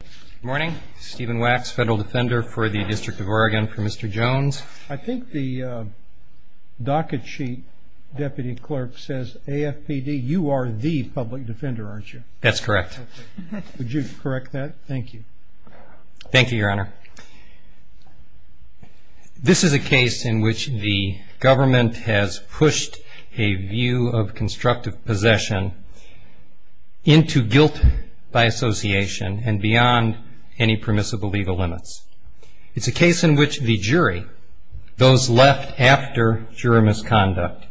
Good morning. Stephen Wax, Federal Defender for the District of Oregon for Mr. Jones. I think the docket sheet, Deputy Clerk, says AFPD. You are the public defender, aren't you? That's correct. Would you correct that? Thank you. Thank you, Your Honor. This is a case in which the government has pushed a view of constructive possession into guilt by association and beyond any permissible legal limits. It's a case in which the jury, those left after juror misconduct,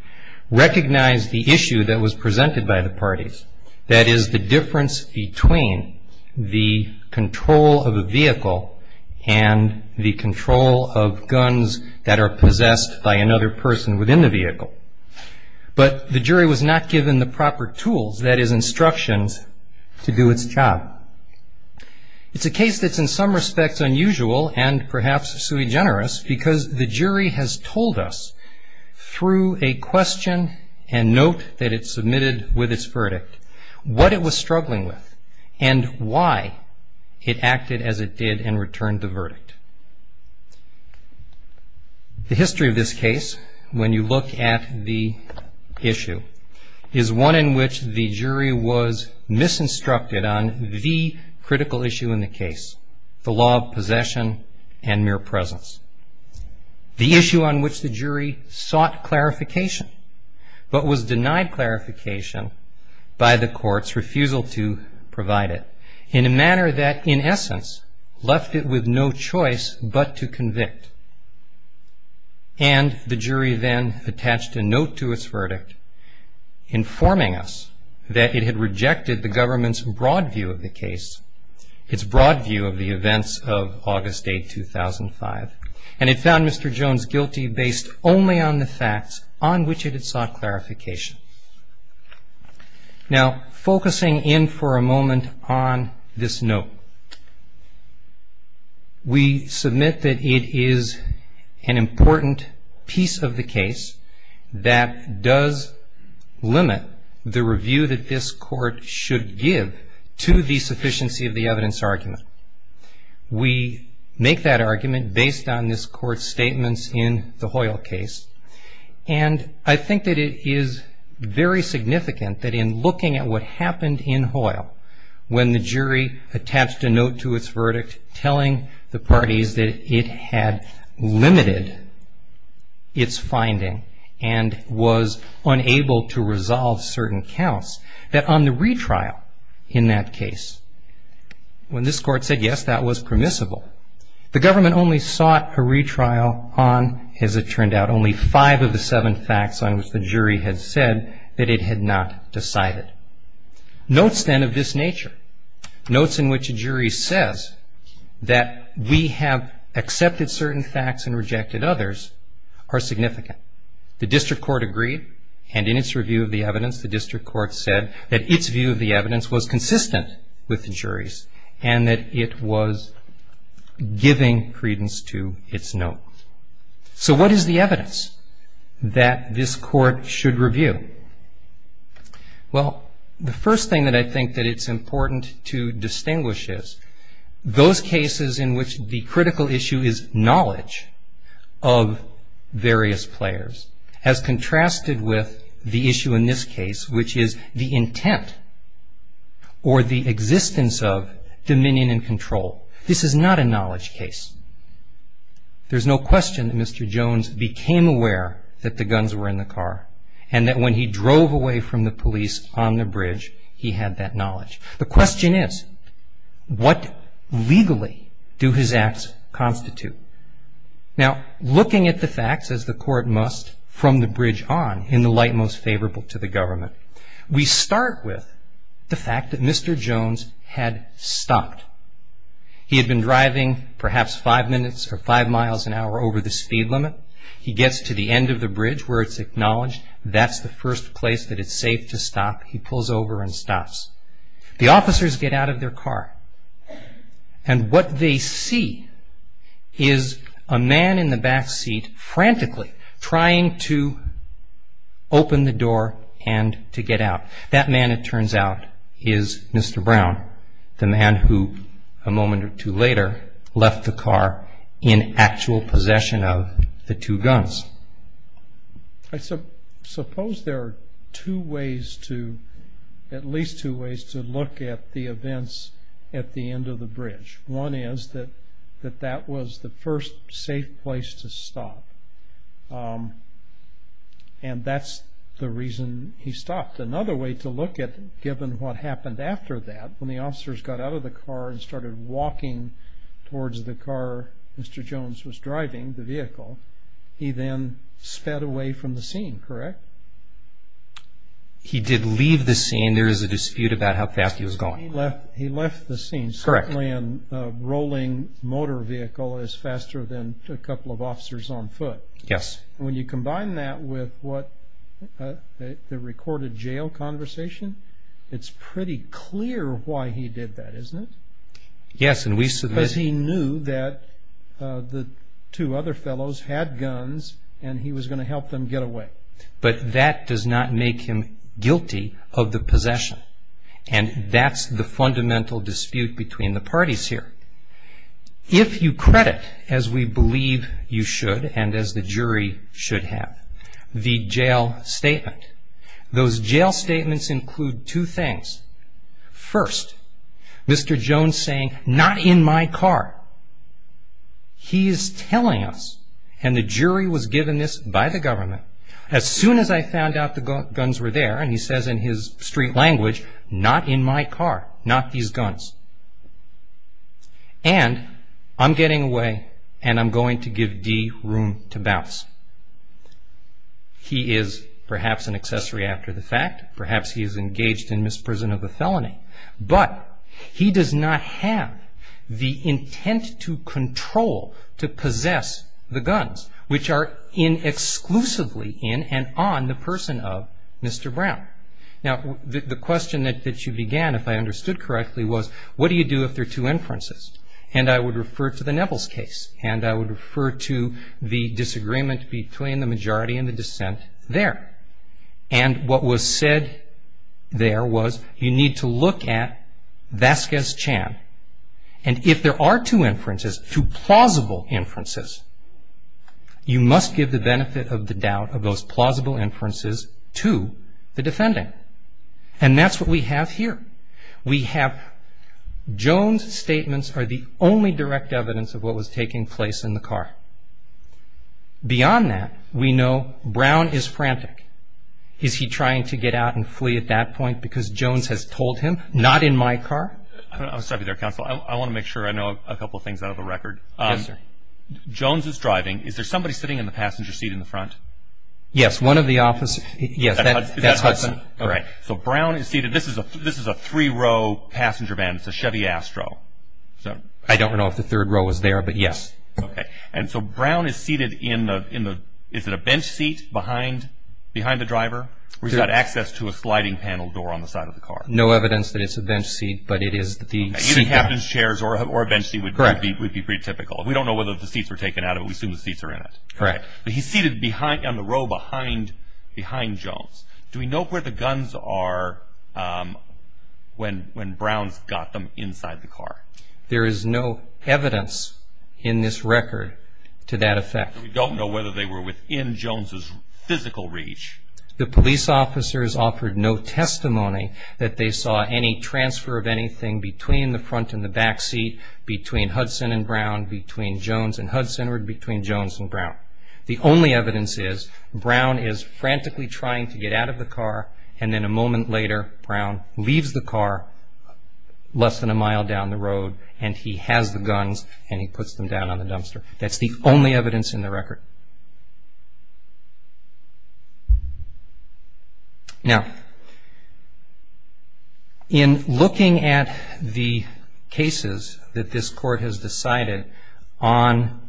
recognized the issue that was presented by the parties, that is the difference between the control of a vehicle and the control of guns that are possessed by another person within the vehicle. But the jury was not given the proper tools, that is instructions, to do its job. It's a case that's in some respects unusual and perhaps sui generis because the jury has told us through a question and note that it submitted with its verdict what it was struggling with and why it acted as it did and returned the verdict. The history of this case, when you look at the issue, is one in which the jury was misinstructed on the critical issue in the case, the law of possession and mere presence, the issue on which the jury sought clarification but was denied clarification by the court's refusal to provide it in a manner that, in essence, left it with no choice but to convict. And the jury then attached a note to its verdict informing us that it had rejected the government's broad view of the case, its broad view of the events of August 8, 2005, and it found Mr. Jones guilty based only on the facts on which it had sought clarification. Now, focusing in for a moment on this note, we submit that it is an important piece of the case that does limit the review that this court should give to the sufficiency of the evidence argument. We make that argument based on this court's statements in the Hoyle case, and I think that it is very significant that in looking at what happened in Hoyle when the jury attached a note to its verdict telling the parties that it had limited its finding and was unable to resolve certain counts, that on the retrial in that case, when this court said, yes, that was permissible, the government only sought a retrial on, as it turned out, only five of the seven facts on which the jury had said that it had not decided. Notes then of this nature, notes in which a jury says that we have accepted certain facts and rejected others are significant. The district court agreed, and in its review of the evidence, the district court said that its view of the evidence was consistent with the jury's and that it was giving credence to its note. So what is the evidence that this court should review? Well, the first thing that I think that it's important to distinguish is those cases in which the critical issue is knowledge of various players has contrasted with the issue in this case, which is the intent or the existence of dominion and control. This is not a knowledge case. There's no question that Mr. Jones became aware that the guns were in the car and that when he drove away from the police on the bridge, he had that knowledge. The question is, what legally do his acts constitute? Now, looking at the facts, as the court must from the bridge on, in the light most favorable to the government, we start with the fact that Mr. Jones had stopped. He had been driving perhaps five minutes or five miles an hour over the speed limit. He gets to the end of the bridge where it's acknowledged that's the first place that it's safe to stop. He pulls over and stops. The officers get out of their car, and what they see is a man in the back seat frantically trying to open the door and to get out. That man, it turns out, is Mr. Brown, the man who a moment or two later left the car in actual possession of the two guns. I suppose there are at least two ways to look at the events at the end of the bridge. One is that that was the first safe place to stop, and that's the reason he stopped. Another way to look at it, given what happened after that, when the officers got out of the car and started walking towards the car Mr. Jones was driving, the vehicle, he then sped away from the scene, correct? He did leave the scene. There is a dispute about how fast he was going. He left the scene. Certainly a rolling motor vehicle is faster than a couple of officers on foot. Yes. When you combine that with the recorded jail conversation, it's pretty clear why he did that, isn't it? Yes. Because he knew that the two other fellows had guns, and he was going to help them get away. But that does not make him guilty of the possession, and that's the fundamental dispute between the parties here. If you credit, as we believe you should and as the jury should have, the jail statement, those jail statements include two things. First, Mr. Jones saying, not in my car. He is telling us, and the jury was given this by the government, As soon as I found out the guns were there, and he says in his street language, not in my car, not these guns. And I'm getting away, and I'm going to give Dee room to bounce. He is perhaps an accessory after the fact. Perhaps he is engaged in misprision of a felony. But he does not have the intent to control, to possess the guns, which are exclusively in and on the person of Mr. Brown. Now, the question that you began, if I understood correctly, was, what do you do if there are two inferences? And I would refer to the Nevels case, and I would refer to the disagreement between the majority and the dissent there. And what was said there was, you need to look at Vasquez Chan. And if there are two inferences, two plausible inferences, you must give the benefit of the doubt of those plausible inferences to the defendant. And that's what we have here. We have Jones' statements are the only direct evidence of what was taking place in the car. Beyond that, we know Brown is frantic. Is he trying to get out and flee at that point because Jones has told him, not in my car? I'm sorry to be there, counsel. I want to make sure I know a couple of things out of the record. Yes, sir. Jones is driving. Is there somebody sitting in the passenger seat in the front? Yes. One of the officers. Yes, that's Hudson. That's Hudson. All right. So Brown is seated. This is a three-row passenger van. It's a Chevy Astro. I don't know if the third row is there, but yes. Okay. And so Brown is seated in the – is it a bench seat behind the driver? Where he's got access to a sliding panel door on the side of the car. No evidence that it's a bench seat, but it is the seat. Either captain's chairs or a bench seat would be pretty typical. We don't know whether the seats were taken out, but we assume the seats are in it. Correct. But he's seated on the row behind Jones. Do we know where the guns are when Brown's got them inside the car? There is no evidence in this record to that effect. We don't know whether they were within Jones's physical reach. The police officers offered no testimony that they saw any transfer of anything between the front and the back seat, between Hudson and Brown, between Jones and Hudson, or between Jones and Brown. The only evidence is Brown is frantically trying to get out of the car, and then a moment later Brown leaves the car less than a mile down the road, and he has the guns, and he puts them down on the dumpster. That's the only evidence in the record. Now, in looking at the cases that this Court has decided on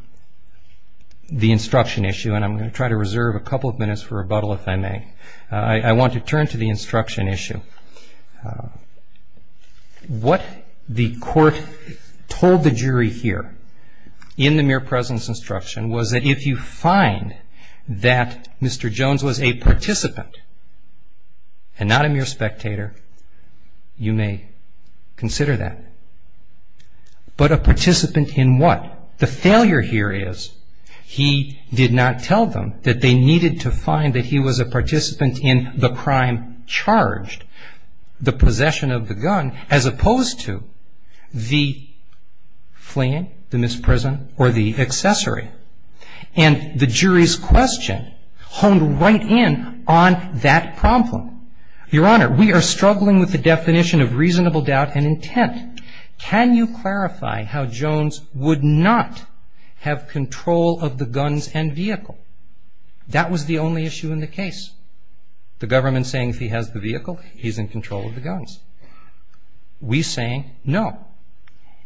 the instruction issue, and I'm going to try to reserve a couple of minutes for rebuttal if I may, I want to turn to the instruction issue. What the Court told the jury here in the mere presence instruction was that if you find that Mr. Jones was a participant and not a mere spectator, you may consider that. But a participant in what? The failure here is he did not tell them that they needed to find that he was a participant in the crime charged. The possession of the gun, as opposed to the fleeing, the misprison, or the accessory. And the jury's question honed right in on that problem. Your Honor, we are struggling with the definition of reasonable doubt and intent. Can you clarify how Jones would not have control of the guns and vehicle? That was the only issue in the case. The government saying if he has the vehicle, he's in control of the guns. We saying no.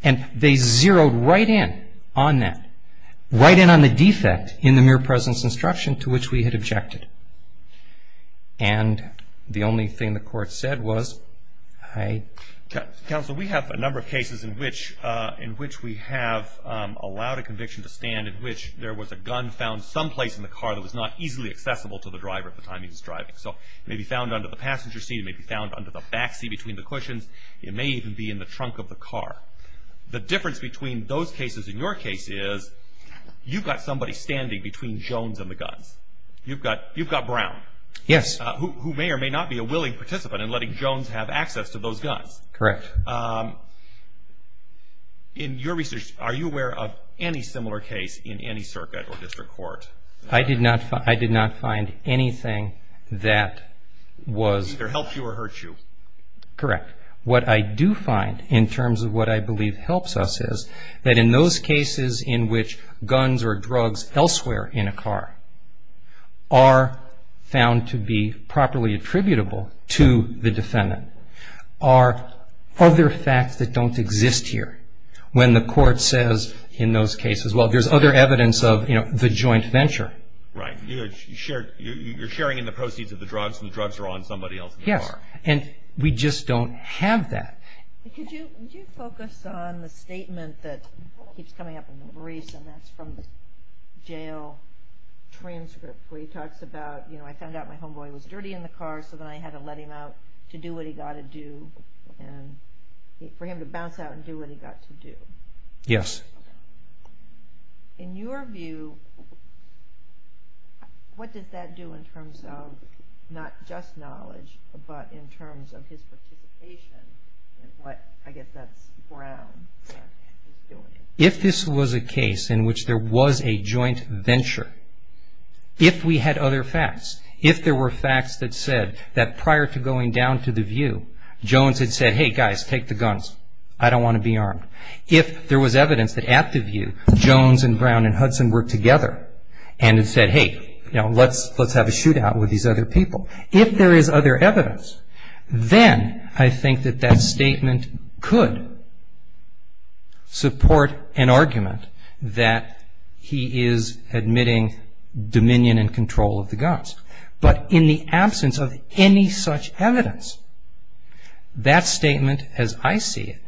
And they zeroed right in on that. Right in on the defect in the mere presence instruction to which we had objected. And the only thing the Court said was I... Counsel, we have a number of cases in which we have allowed a conviction to stand in which there was a gun found someplace in the car that was not easily accessible to the driver at the time he was driving. So it may be found under the passenger seat. It may be found under the back seat between the cushions. It may even be in the trunk of the car. The difference between those cases and your case is you've got somebody standing between Jones and the guns. You've got Brown. Yes. Who may or may not be a willing participant in letting Jones have access to those guns. Correct. In your research, are you aware of any similar case in any circuit or district court? I did not find anything that was... Either helped you or hurt you. Correct. What I do find in terms of what I believe helps us is that in those cases in which guns or drugs elsewhere in a car are found to be there are other facts that don't exist here. When the court says in those cases, well, there's other evidence of the joint venture. Right. You're sharing in the proceeds of the drugs and the drugs are on somebody else in the car. Yes. And we just don't have that. Could you focus on the statement that keeps coming up in the briefs and that's from the jail transcript where he talks about, you know, I found out my homeboy was dirty in the car so then I had to let him out to do what he got to do and for him to bounce out and do what he got to do. Yes. In your view, what does that do in terms of not just knowledge but in terms of his participation in what, I guess, that's Brown doing? If this was a case in which there was a joint venture, if we had other facts, if there were facts that said that prior to going down to the view, Jones had said, hey, guys, take the guns. I don't want to be armed. If there was evidence that at the view, Jones and Brown and Hudson were together and had said, hey, you know, let's have a shootout with If there is other evidence, then I think that that statement could support an argument that he is admitting dominion and control of the guns. But in the absence of any such evidence, that statement as I see it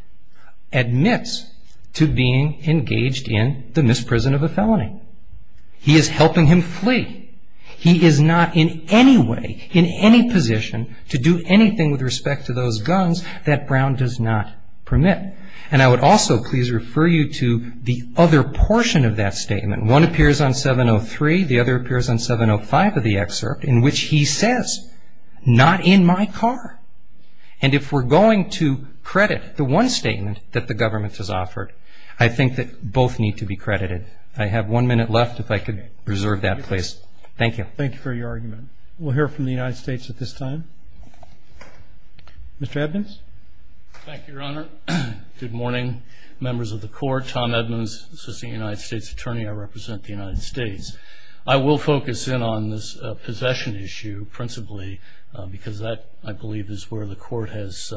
admits to being engaged in the misprison of a felony. He is helping him flee. He is not in any way, in any position to do anything with respect to those guns that Brown does not permit. And I would also please refer you to the other portion of that statement. One appears on 703. The other appears on 705 of the excerpt in which he says, not in my car. And if we're going to credit the one statement that the government has offered, I think that both need to be credited. I have one minute left. If I could reserve that, please. Thank you. Thank you for your argument. We'll hear from the United States at this time. Mr. Edmonds? Thank you, Your Honor. Good morning, members of the Court. Tom Edmonds, Assistant United States Attorney. I represent the United States. I will focus in on this possession issue principally because that, I believe, is where the Court has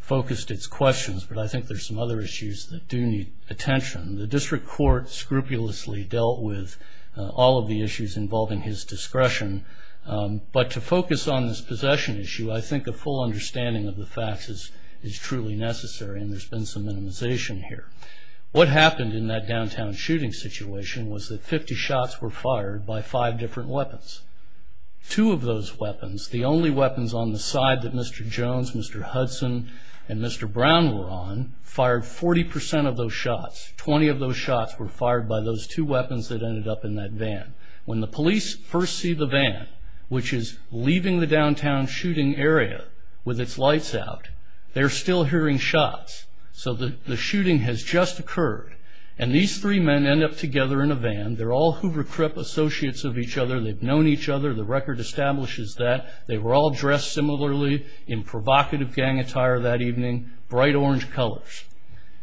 focused its questions. But I think there are some other issues that do need attention. The District Court scrupulously dealt with all of the issues involving his discretion. But to focus on this possession issue, I think a full understanding of the facts is truly necessary, and there's been some minimization here. What happened in that downtown shooting situation was that 50 shots were fired by five different weapons. Two of those weapons, the only weapons on the side that Mr. Jones, Mr. Hudson, and Mr. Brown were on, 20 of those shots were fired by those two weapons that ended up in that van. When the police first see the van, which is leaving the downtown shooting area with its lights out, they're still hearing shots. So the shooting has just occurred, and these three men end up together in a van. They're all Hoover Crip associates of each other. They've known each other. The record establishes that. They were all dressed similarly in provocative gang attire that evening, bright orange colors.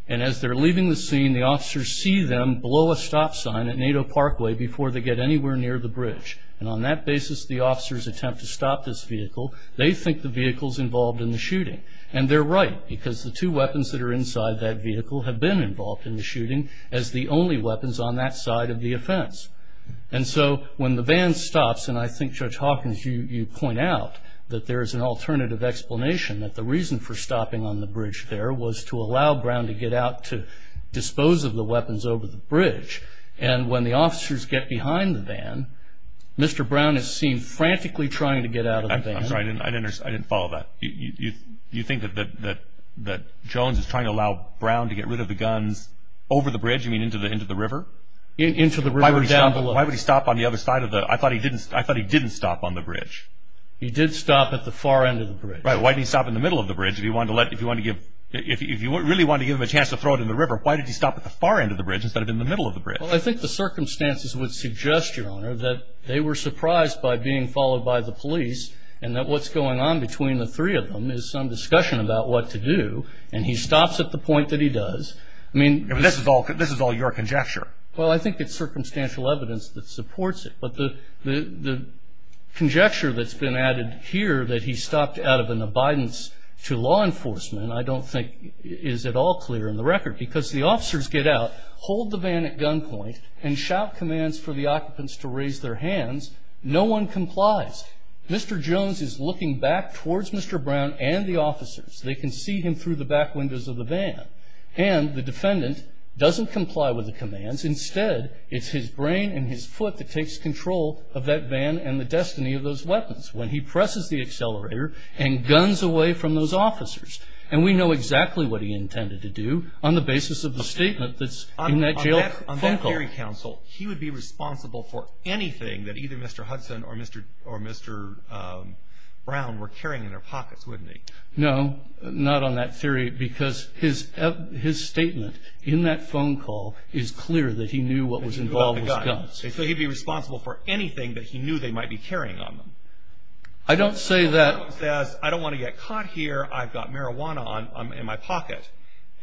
As they're leaving the scene, the officers see them below a stop sign at Nato Parkway before they get anywhere near the bridge. On that basis, the officers attempt to stop this vehicle. They think the vehicle's involved in the shooting, and they're right, because the two weapons that are inside that vehicle have been involved in the shooting as the only weapons on that side of the offense. So when the van stops, and I think, Judge Hawkins, you point out that there is an alternative explanation, that the reason for stopping on the bridge there was to allow Brown to get out to dispose of the weapons over the bridge. And when the officers get behind the van, Mr. Brown is seen frantically trying to get out of the van. I didn't follow that. You think that Jones is trying to allow Brown to get rid of the guns over the bridge? You mean into the river? Into the river down below. Why would he stop on the other side? I thought he didn't stop on the bridge. He did stop at the far end of the bridge. Right. Why did he stop in the middle of the bridge? If you really wanted to give him a chance to throw it in the river, why did he stop at the far end of the bridge instead of in the middle of the bridge? Well, I think the circumstances would suggest, Your Honor, that they were surprised by being followed by the police and that what's going on between the three of them is some discussion about what to do, and he stops at the point that he does. I mean, this is all your conjecture. Well, I think it's circumstantial evidence that supports it. But the conjecture that's been added here, that he stopped out of an abidance to law enforcement, I don't think is at all clear in the record. Because the officers get out, hold the van at gunpoint, and shout commands for the occupants to raise their hands. No one complies. Mr. Jones is looking back towards Mr. Brown and the officers. They can see him through the back windows of the van. And the defendant doesn't comply with the commands. Instead, it's his brain and his foot that takes control of that van and the destiny of those weapons when he presses the accelerator and guns away from those officers. And we know exactly what he intended to do on the basis of the statement that's in that jail phone call. On that theory, counsel, he would be responsible for anything that either Mr. Hudson or Mr. Brown were carrying in their pockets, wouldn't he? No, not on that theory, because his statement in that phone call is clear that he knew what was involved was guns. So he'd be responsible for anything that he knew they might be carrying on them. I don't say that. If Jones says, I don't want to get caught here, I've got marijuana in my pocket,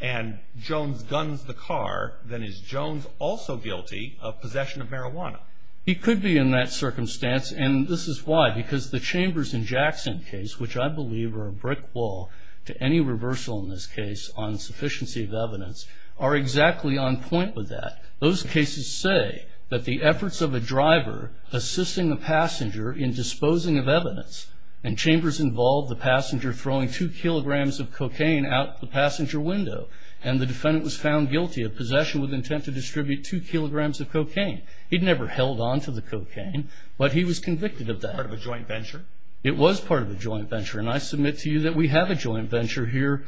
and Jones guns the car, then is Jones also guilty of possession of marijuana? He could be in that circumstance, and this is why. Because the Chambers and Jackson case, which I believe are a brick wall to any reversal in this case on sufficiency of evidence, are exactly on point with that. Those cases say that the efforts of a driver assisting a passenger in disposing of evidence, and Chambers involved the passenger throwing 2 kilograms of cocaine out the passenger window, and the defendant was found guilty of possession with intent to distribute 2 kilograms of cocaine. He'd never held onto the cocaine, but he was convicted of that. Part of a joint venture? It was part of a joint venture, and I submit to you that we have a joint venture here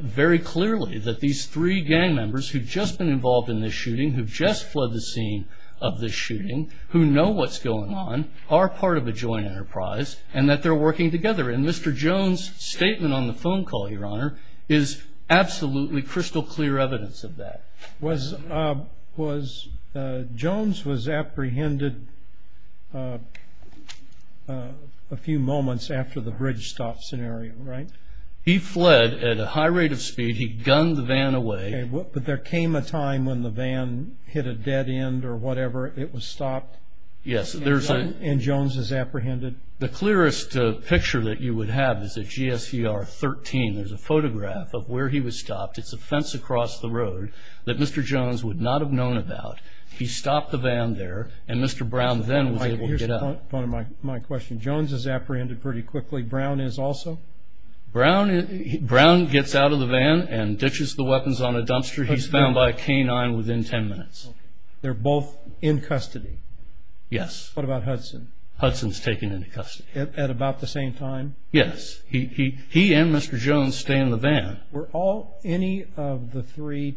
very clearly, that these 3 gang members who've just been involved in this shooting, who've just flooded the scene of this shooting, who know what's going on, are part of a joint enterprise, and that they're working together. And Mr. Jones' statement on the phone call, Your Honor, is absolutely crystal clear evidence of that. Jones was apprehended a few moments after the bridge stop scenario, right? He fled at a high rate of speed. He'd gunned the van away. But there came a time when the van hit a dead end or whatever. It was stopped. Yes. And Jones was apprehended. The clearest picture that you would have is at GSER 13. There's a photograph of where he was stopped. It's a fence across the road that Mr. Jones would not have known about. He stopped the van there, and Mr. Brown then was able to get out. Here's the point of my question. Jones is apprehended pretty quickly. Brown is also? Brown gets out of the van and ditches the weapons on a dumpster. He's found by a canine within 10 minutes. They're both in custody? Yes. What about Hudson? Hudson's taken into custody. At about the same time? Yes. He and Mr. Jones stay in the van. Were any of the three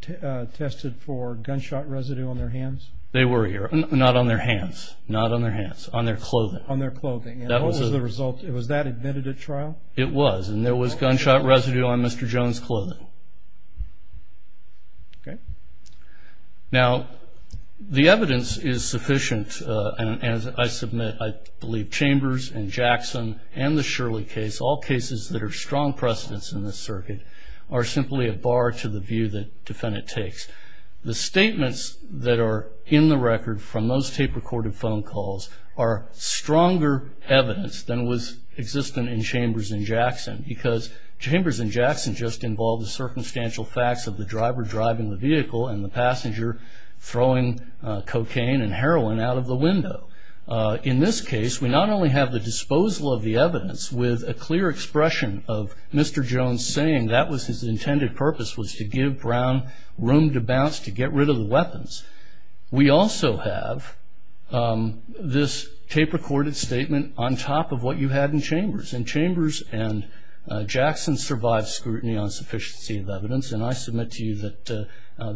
tested for gunshot residue on their hands? They were here. Not on their hands. Not on their hands. On their clothing. On their clothing. And what was the result? Was that admitted at trial? It was. And there was gunshot residue on Mr. Jones' clothing. Okay. Now, the evidence is sufficient. And as I submit, I believe Chambers and Jackson and the Shirley case, all cases that are strong precedents in this circuit, are simply a bar to the view that defendant takes. The statements that are in the record from those tape-recorded phone calls are stronger evidence than was existent in Chambers and Jackson, because Chambers and Jackson just involved the circumstantial facts of the driver driving the vehicle and the passenger throwing cocaine and heroin out of the window. In this case, we not only have the disposal of the evidence with a clear expression of Mr. Jones saying that was his intended purpose, was to give Brown room to bounce, to get rid of the weapons. We also have this tape-recorded statement on top of what you had in Chambers. And Chambers and Jackson survived scrutiny on sufficiency of evidence, and I submit to you that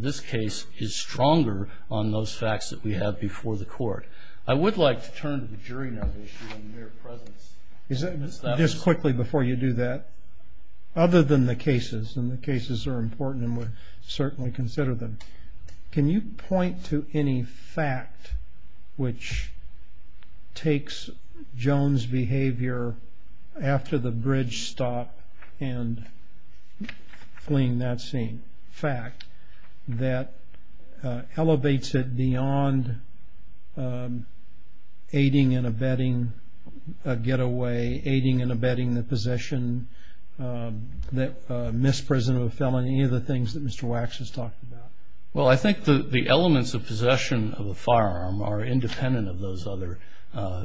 this case is stronger on those facts that we have before the court. I would like to turn to the jury now to issue a mere presence. Just quickly before you do that, other than the cases, and the cases are important and we'll certainly consider them, can you point to any fact which takes Jones' behavior after the bridge stop and fleeing that scene? Fact that elevates it beyond aiding and abetting a getaway, aiding and abetting the possession, misprison of a felon, any of the things that Mr. Wax has talked about? Well, I think the elements of possession of a firearm are independent of those other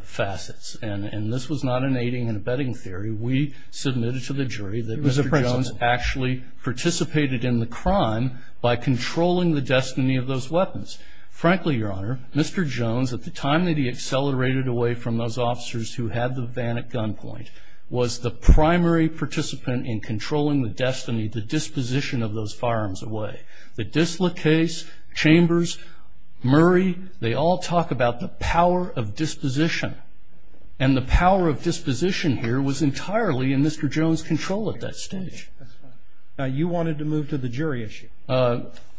facets, and this was not an aiding and abetting theory. We submitted to the jury that Mr. Jones actually participated in the crime by controlling the destiny of those weapons. Frankly, Your Honor, Mr. Jones, at the time that he accelerated away from those officers who had the van at gunpoint, was the primary participant in controlling the destiny, the disposition of those firearms away. The Disla case, Chambers, Murray, they all talk about the power of disposition, and the power of disposition here was entirely in Mr. Jones' control at that stage. Now, you wanted to move to the jury issue.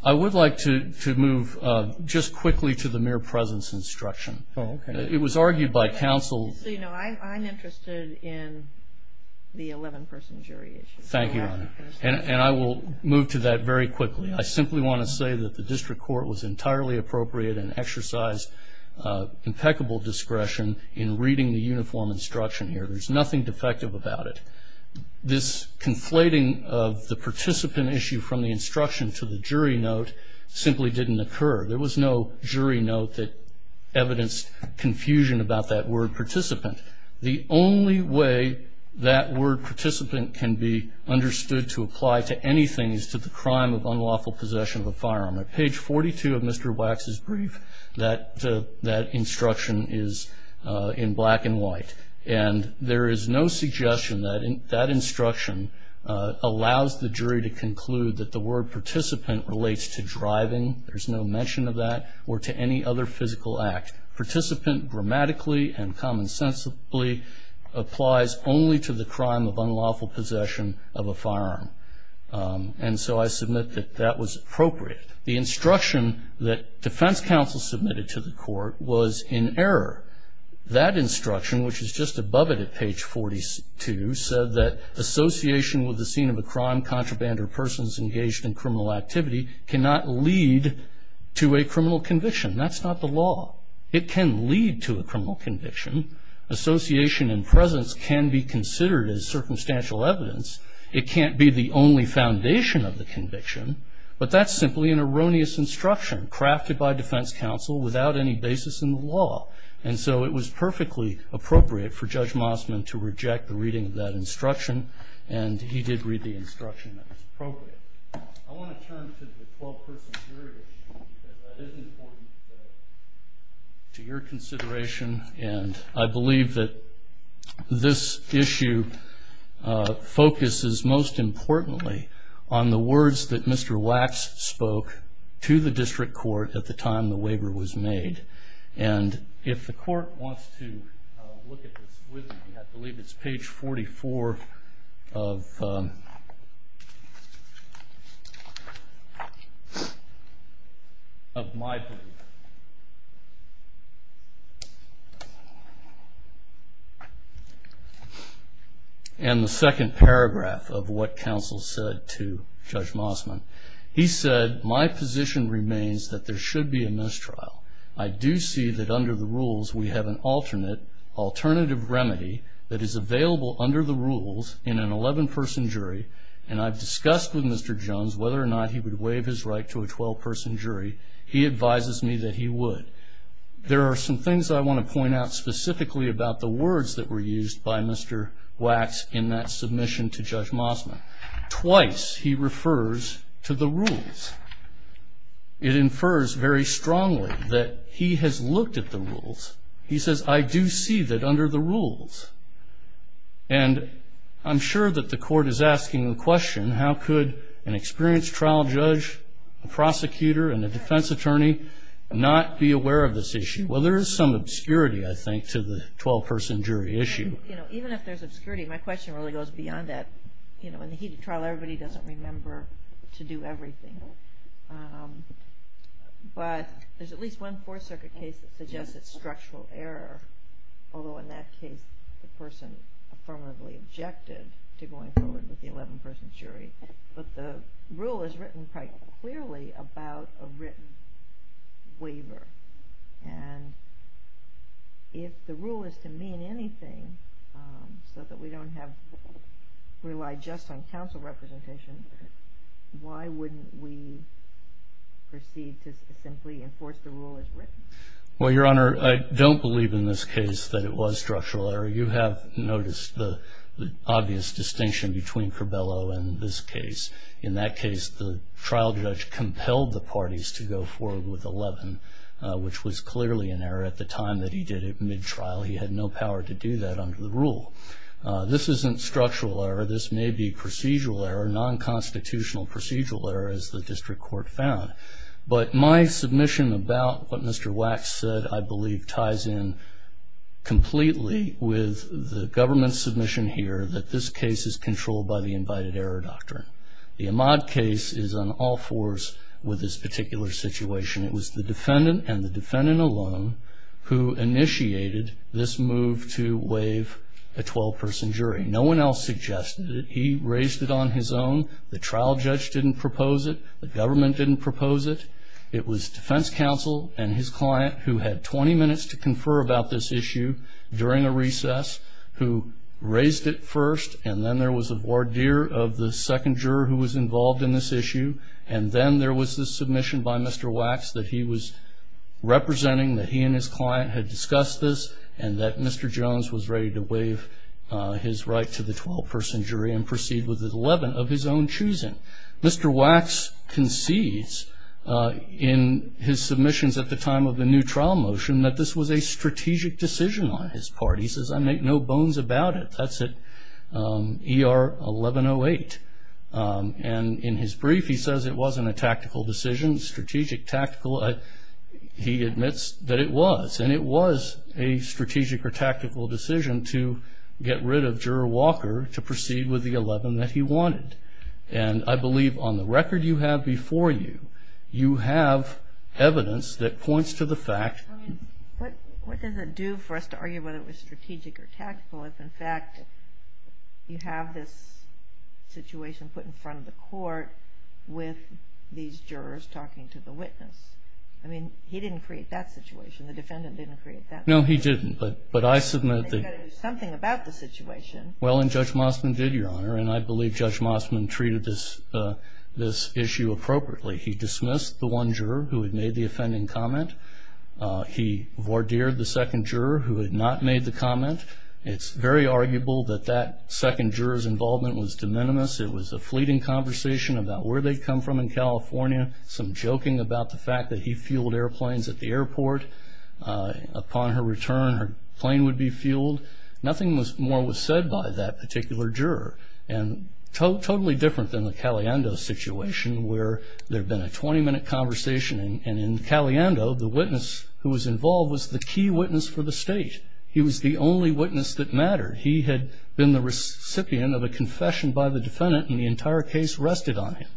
I would like to move just quickly to the mere presence instruction. It was argued by counsel. So, you know, I'm interested in the 11-person jury issue. Thank you, Your Honor, and I will move to that very quickly. I simply want to say that the district court was entirely appropriate and exercised impeccable discretion in reading the uniform instruction here. There's nothing defective about it. This conflating of the participant issue from the instruction to the jury note simply didn't occur. There was no jury note that evidenced confusion about that word participant. The only way that word participant can be understood to apply to anything is to the crime of unlawful possession of a firearm. At page 42 of Mr. Wax's brief, that instruction is in black and white. And there is no suggestion that that instruction allows the jury to conclude that the word participant relates to driving, there's no mention of that, or to any other physical act. Participant grammatically and commonsensically applies only to the crime of unlawful possession of a firearm. And so I submit that that was appropriate. The instruction that defense counsel submitted to the court was in error. That instruction, which is just above it at page 42, said that association with the scene of a crime, contraband, or persons engaged in criminal activity cannot lead to a criminal conviction. That's not the law. It can lead to a criminal conviction. Association and presence can be considered as circumstantial evidence. It can't be the only foundation of the conviction. But that's simply an erroneous instruction crafted by defense counsel without any basis in the law. And so it was perfectly appropriate for Judge Mossman to reject the reading of that instruction, and he did read the instruction that was appropriate. I want to turn to the 12-person jury issue because that is important to your consideration, and I believe that this issue focuses most importantly on the words that Mr. Wax spoke to the district court at the time the waiver was made. And if the court wants to look at this with me, I believe it's page 44 of my second paragraph of what counsel said to Judge Mossman. He said, my position remains that there should be a mistrial. I do see that under the rules we have an alternative remedy that is available under the rules in an 11-person jury, and I've discussed with Mr. Jones whether or not he would waive his right to a 12-person jury. He advises me that he would. There are some things I want to point out specifically about the words that were used by Mr. Wax in that submission to Judge Mossman. Twice he refers to the rules. It infers very strongly that he has looked at the rules. He says, I do see that under the rules. And I'm sure that the court is asking the question, how could an experienced trial judge, a prosecutor, and a defense attorney not be aware of this issue? Well, there is some obscurity, I think, to the 12-person jury issue. Even if there's obscurity, my question really goes beyond that. In the heat of trial, everybody doesn't remember to do everything. But there's at least one Fourth Circuit case that suggests it's structural error, although in that case the person affirmatively objected to going forward with the 11-person jury. But the rule is written quite clearly about a written waiver. And if the rule is to mean anything so that we don't have to rely just on counsel representation, why wouldn't we proceed to simply enforce the rule as written? Well, Your Honor, I don't believe in this case that it was structural error. You have noticed the obvious distinction between Carbello and this case. In that case, the trial judge compelled the parties to go forward with 11, which was clearly an error at the time that he did it mid-trial. He had no power to do that under the rule. This isn't structural error. This may be procedural error, nonconstitutional procedural error, as the district court found. But my submission about what Mr. Wax said, I believe, ties in completely with the government's submission here that this case is controlled by the invited error doctrine. The Ahmaud case is on all fours with this particular situation. It was the defendant and the defendant alone who initiated this move to waive a 12-person jury. No one else suggested it. He raised it on his own. The trial judge didn't propose it. The government didn't propose it. It was defense counsel and his client who had 20 minutes to confer about this issue during a recess who raised it first, and then there was a voir dire of the second juror who was involved in this issue, and then there was this submission by Mr. Wax that he was representing, that he and his client had discussed this, and that Mr. Jones was ready to waive his right to the 12-person jury and proceed with 11 of his own choosing. Mr. Wax concedes in his submissions at the time of the new trial motion that this was a strategic decision on his part. He says, I make no bones about it. That's at ER 1108. And in his brief, he says it wasn't a tactical decision, strategic, tactical. He admits that it was, and it was a strategic or tactical decision to get rid of Juror Walker to proceed with the 11 that he wanted. And I believe on the record you have before you, you have evidence that points to the fact. I mean, what does it do for us to argue whether it was strategic or tactical if, in fact, you have this situation put in front of the court with these jurors talking to the witness? I mean, he didn't create that situation. The defendant didn't create that situation. No, he didn't, but I submit that. He's got to do something about the situation. Well, and Judge Mossman did, Your Honor, and I believe Judge Mossman treated this issue appropriately. He dismissed the one juror who had made the offending comment. He voir dired the second juror who had not made the comment. It's very arguable that that second juror's involvement was de minimis. It was a fleeting conversation about where they'd come from in California, some joking about the fact that he fueled airplanes at the airport. Upon her return, her plane would be fueled. Nothing more was said by that particular juror, and totally different than the Caliendo situation, where there had been a 20-minute conversation, and in Caliendo the witness who was involved was the key witness for the state. He was the only witness that mattered. He had been the recipient of a confession by the defendant, and the entire case rested on him.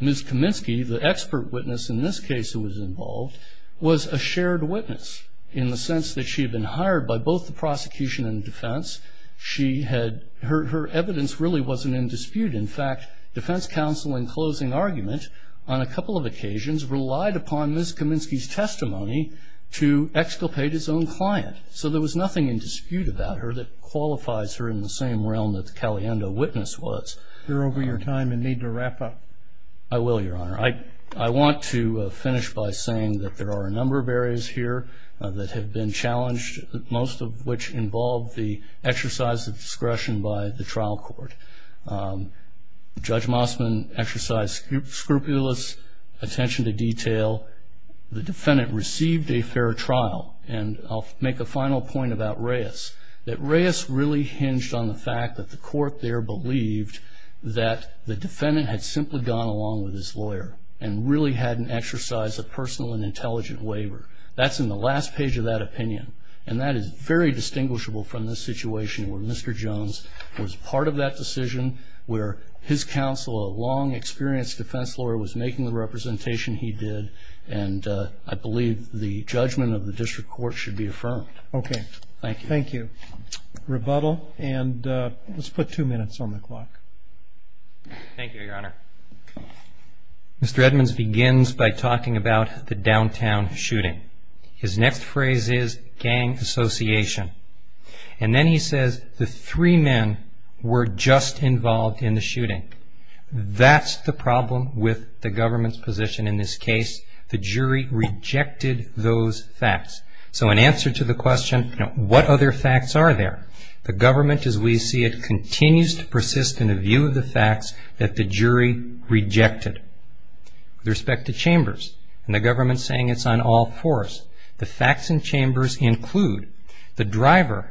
Ms. Kaminsky, the expert witness in this case who was involved, was a shared witness in the sense that she had been hired by both the prosecution and defense. Her evidence really wasn't in dispute. In fact, defense counsel, in closing argument, on a couple of occasions relied upon Ms. Kaminsky's testimony to exculpate his own client. So there was nothing in dispute about her that qualifies her in the same realm that the Caliendo witness was. You're over your time and need to wrap up. I will, Your Honor. I want to finish by saying that there are a number of areas here that have been challenged, most of which involve the exercise of discretion by the trial court. Judge Mossman exercised scrupulous attention to detail. The defendant received a fair trial. And I'll make a final point about Reyes, that Reyes really hinged on the fact that the court there believed that the defendant had simply gone along with his lawyer and really hadn't exercised a personal and intelligent waiver. That's in the last page of that opinion. And that is very distinguishable from the situation where Mr. Jones was part of that decision, where his counsel, a long-experienced defense lawyer, was making the representation he did. And I believe the judgment of the district court should be affirmed. Okay. Thank you. Thank you. Rebuttal, and let's put two minutes on the clock. Thank you, Your Honor. Mr. Edmonds begins by talking about the downtown shooting. His next phrase is gang association. And then he says the three men were just involved in the shooting. That's the problem with the government's position in this case. The jury rejected those facts. So in answer to the question, what other facts are there? The government, as we see it, continues to persist in a view of the facts that the jury rejected. With respect to chambers, and the government saying it's on all fours, the facts in chambers include the driver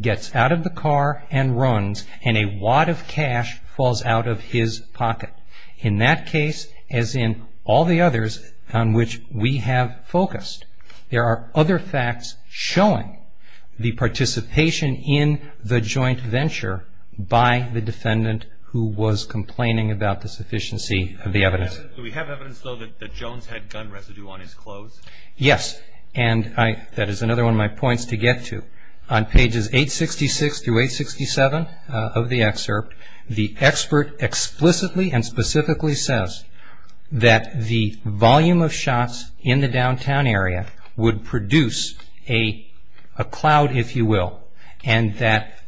gets out of the car and runs, and a wad of cash falls out of his pocket. In that case, as in all the others on which we have focused, there are other facts showing the participation in the joint venture by the defendant who was complaining about the sufficiency of the evidence. Do we have evidence, though, that Jones had gun residue on his clothes? Yes. And that is another one of my points to get to. On pages 866 through 867 of the excerpt, the expert explicitly and specifically says that the volume of shots in the downtown area would produce a cloud, if you will, and that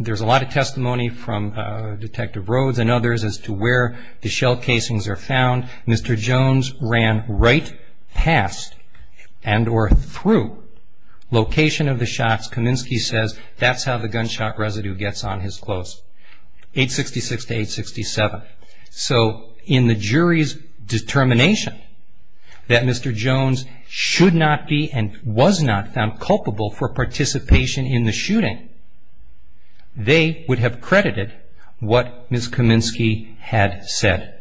there's a lot of testimony from Detective Rhodes and others as to where the shell casings are found. Mr. Jones ran right past and or through location of the shots. Kaminsky says that's how the gunshot residue gets on his clothes. 866 to 867. So in the jury's determination that Mr. Jones should not be and was not found culpable for participation in the shooting, they would have credited what Ms. Kaminsky had said.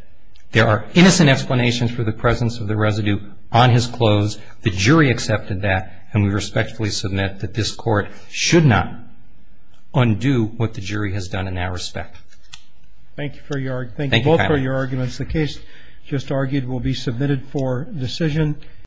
There are innocent explanations for the presence of the residue on his clothes. The jury accepted that, and we respectfully submit that this Court should not undo what the jury has done in our respect. Thank you both for your arguments. The case just argued will be submitted for decision.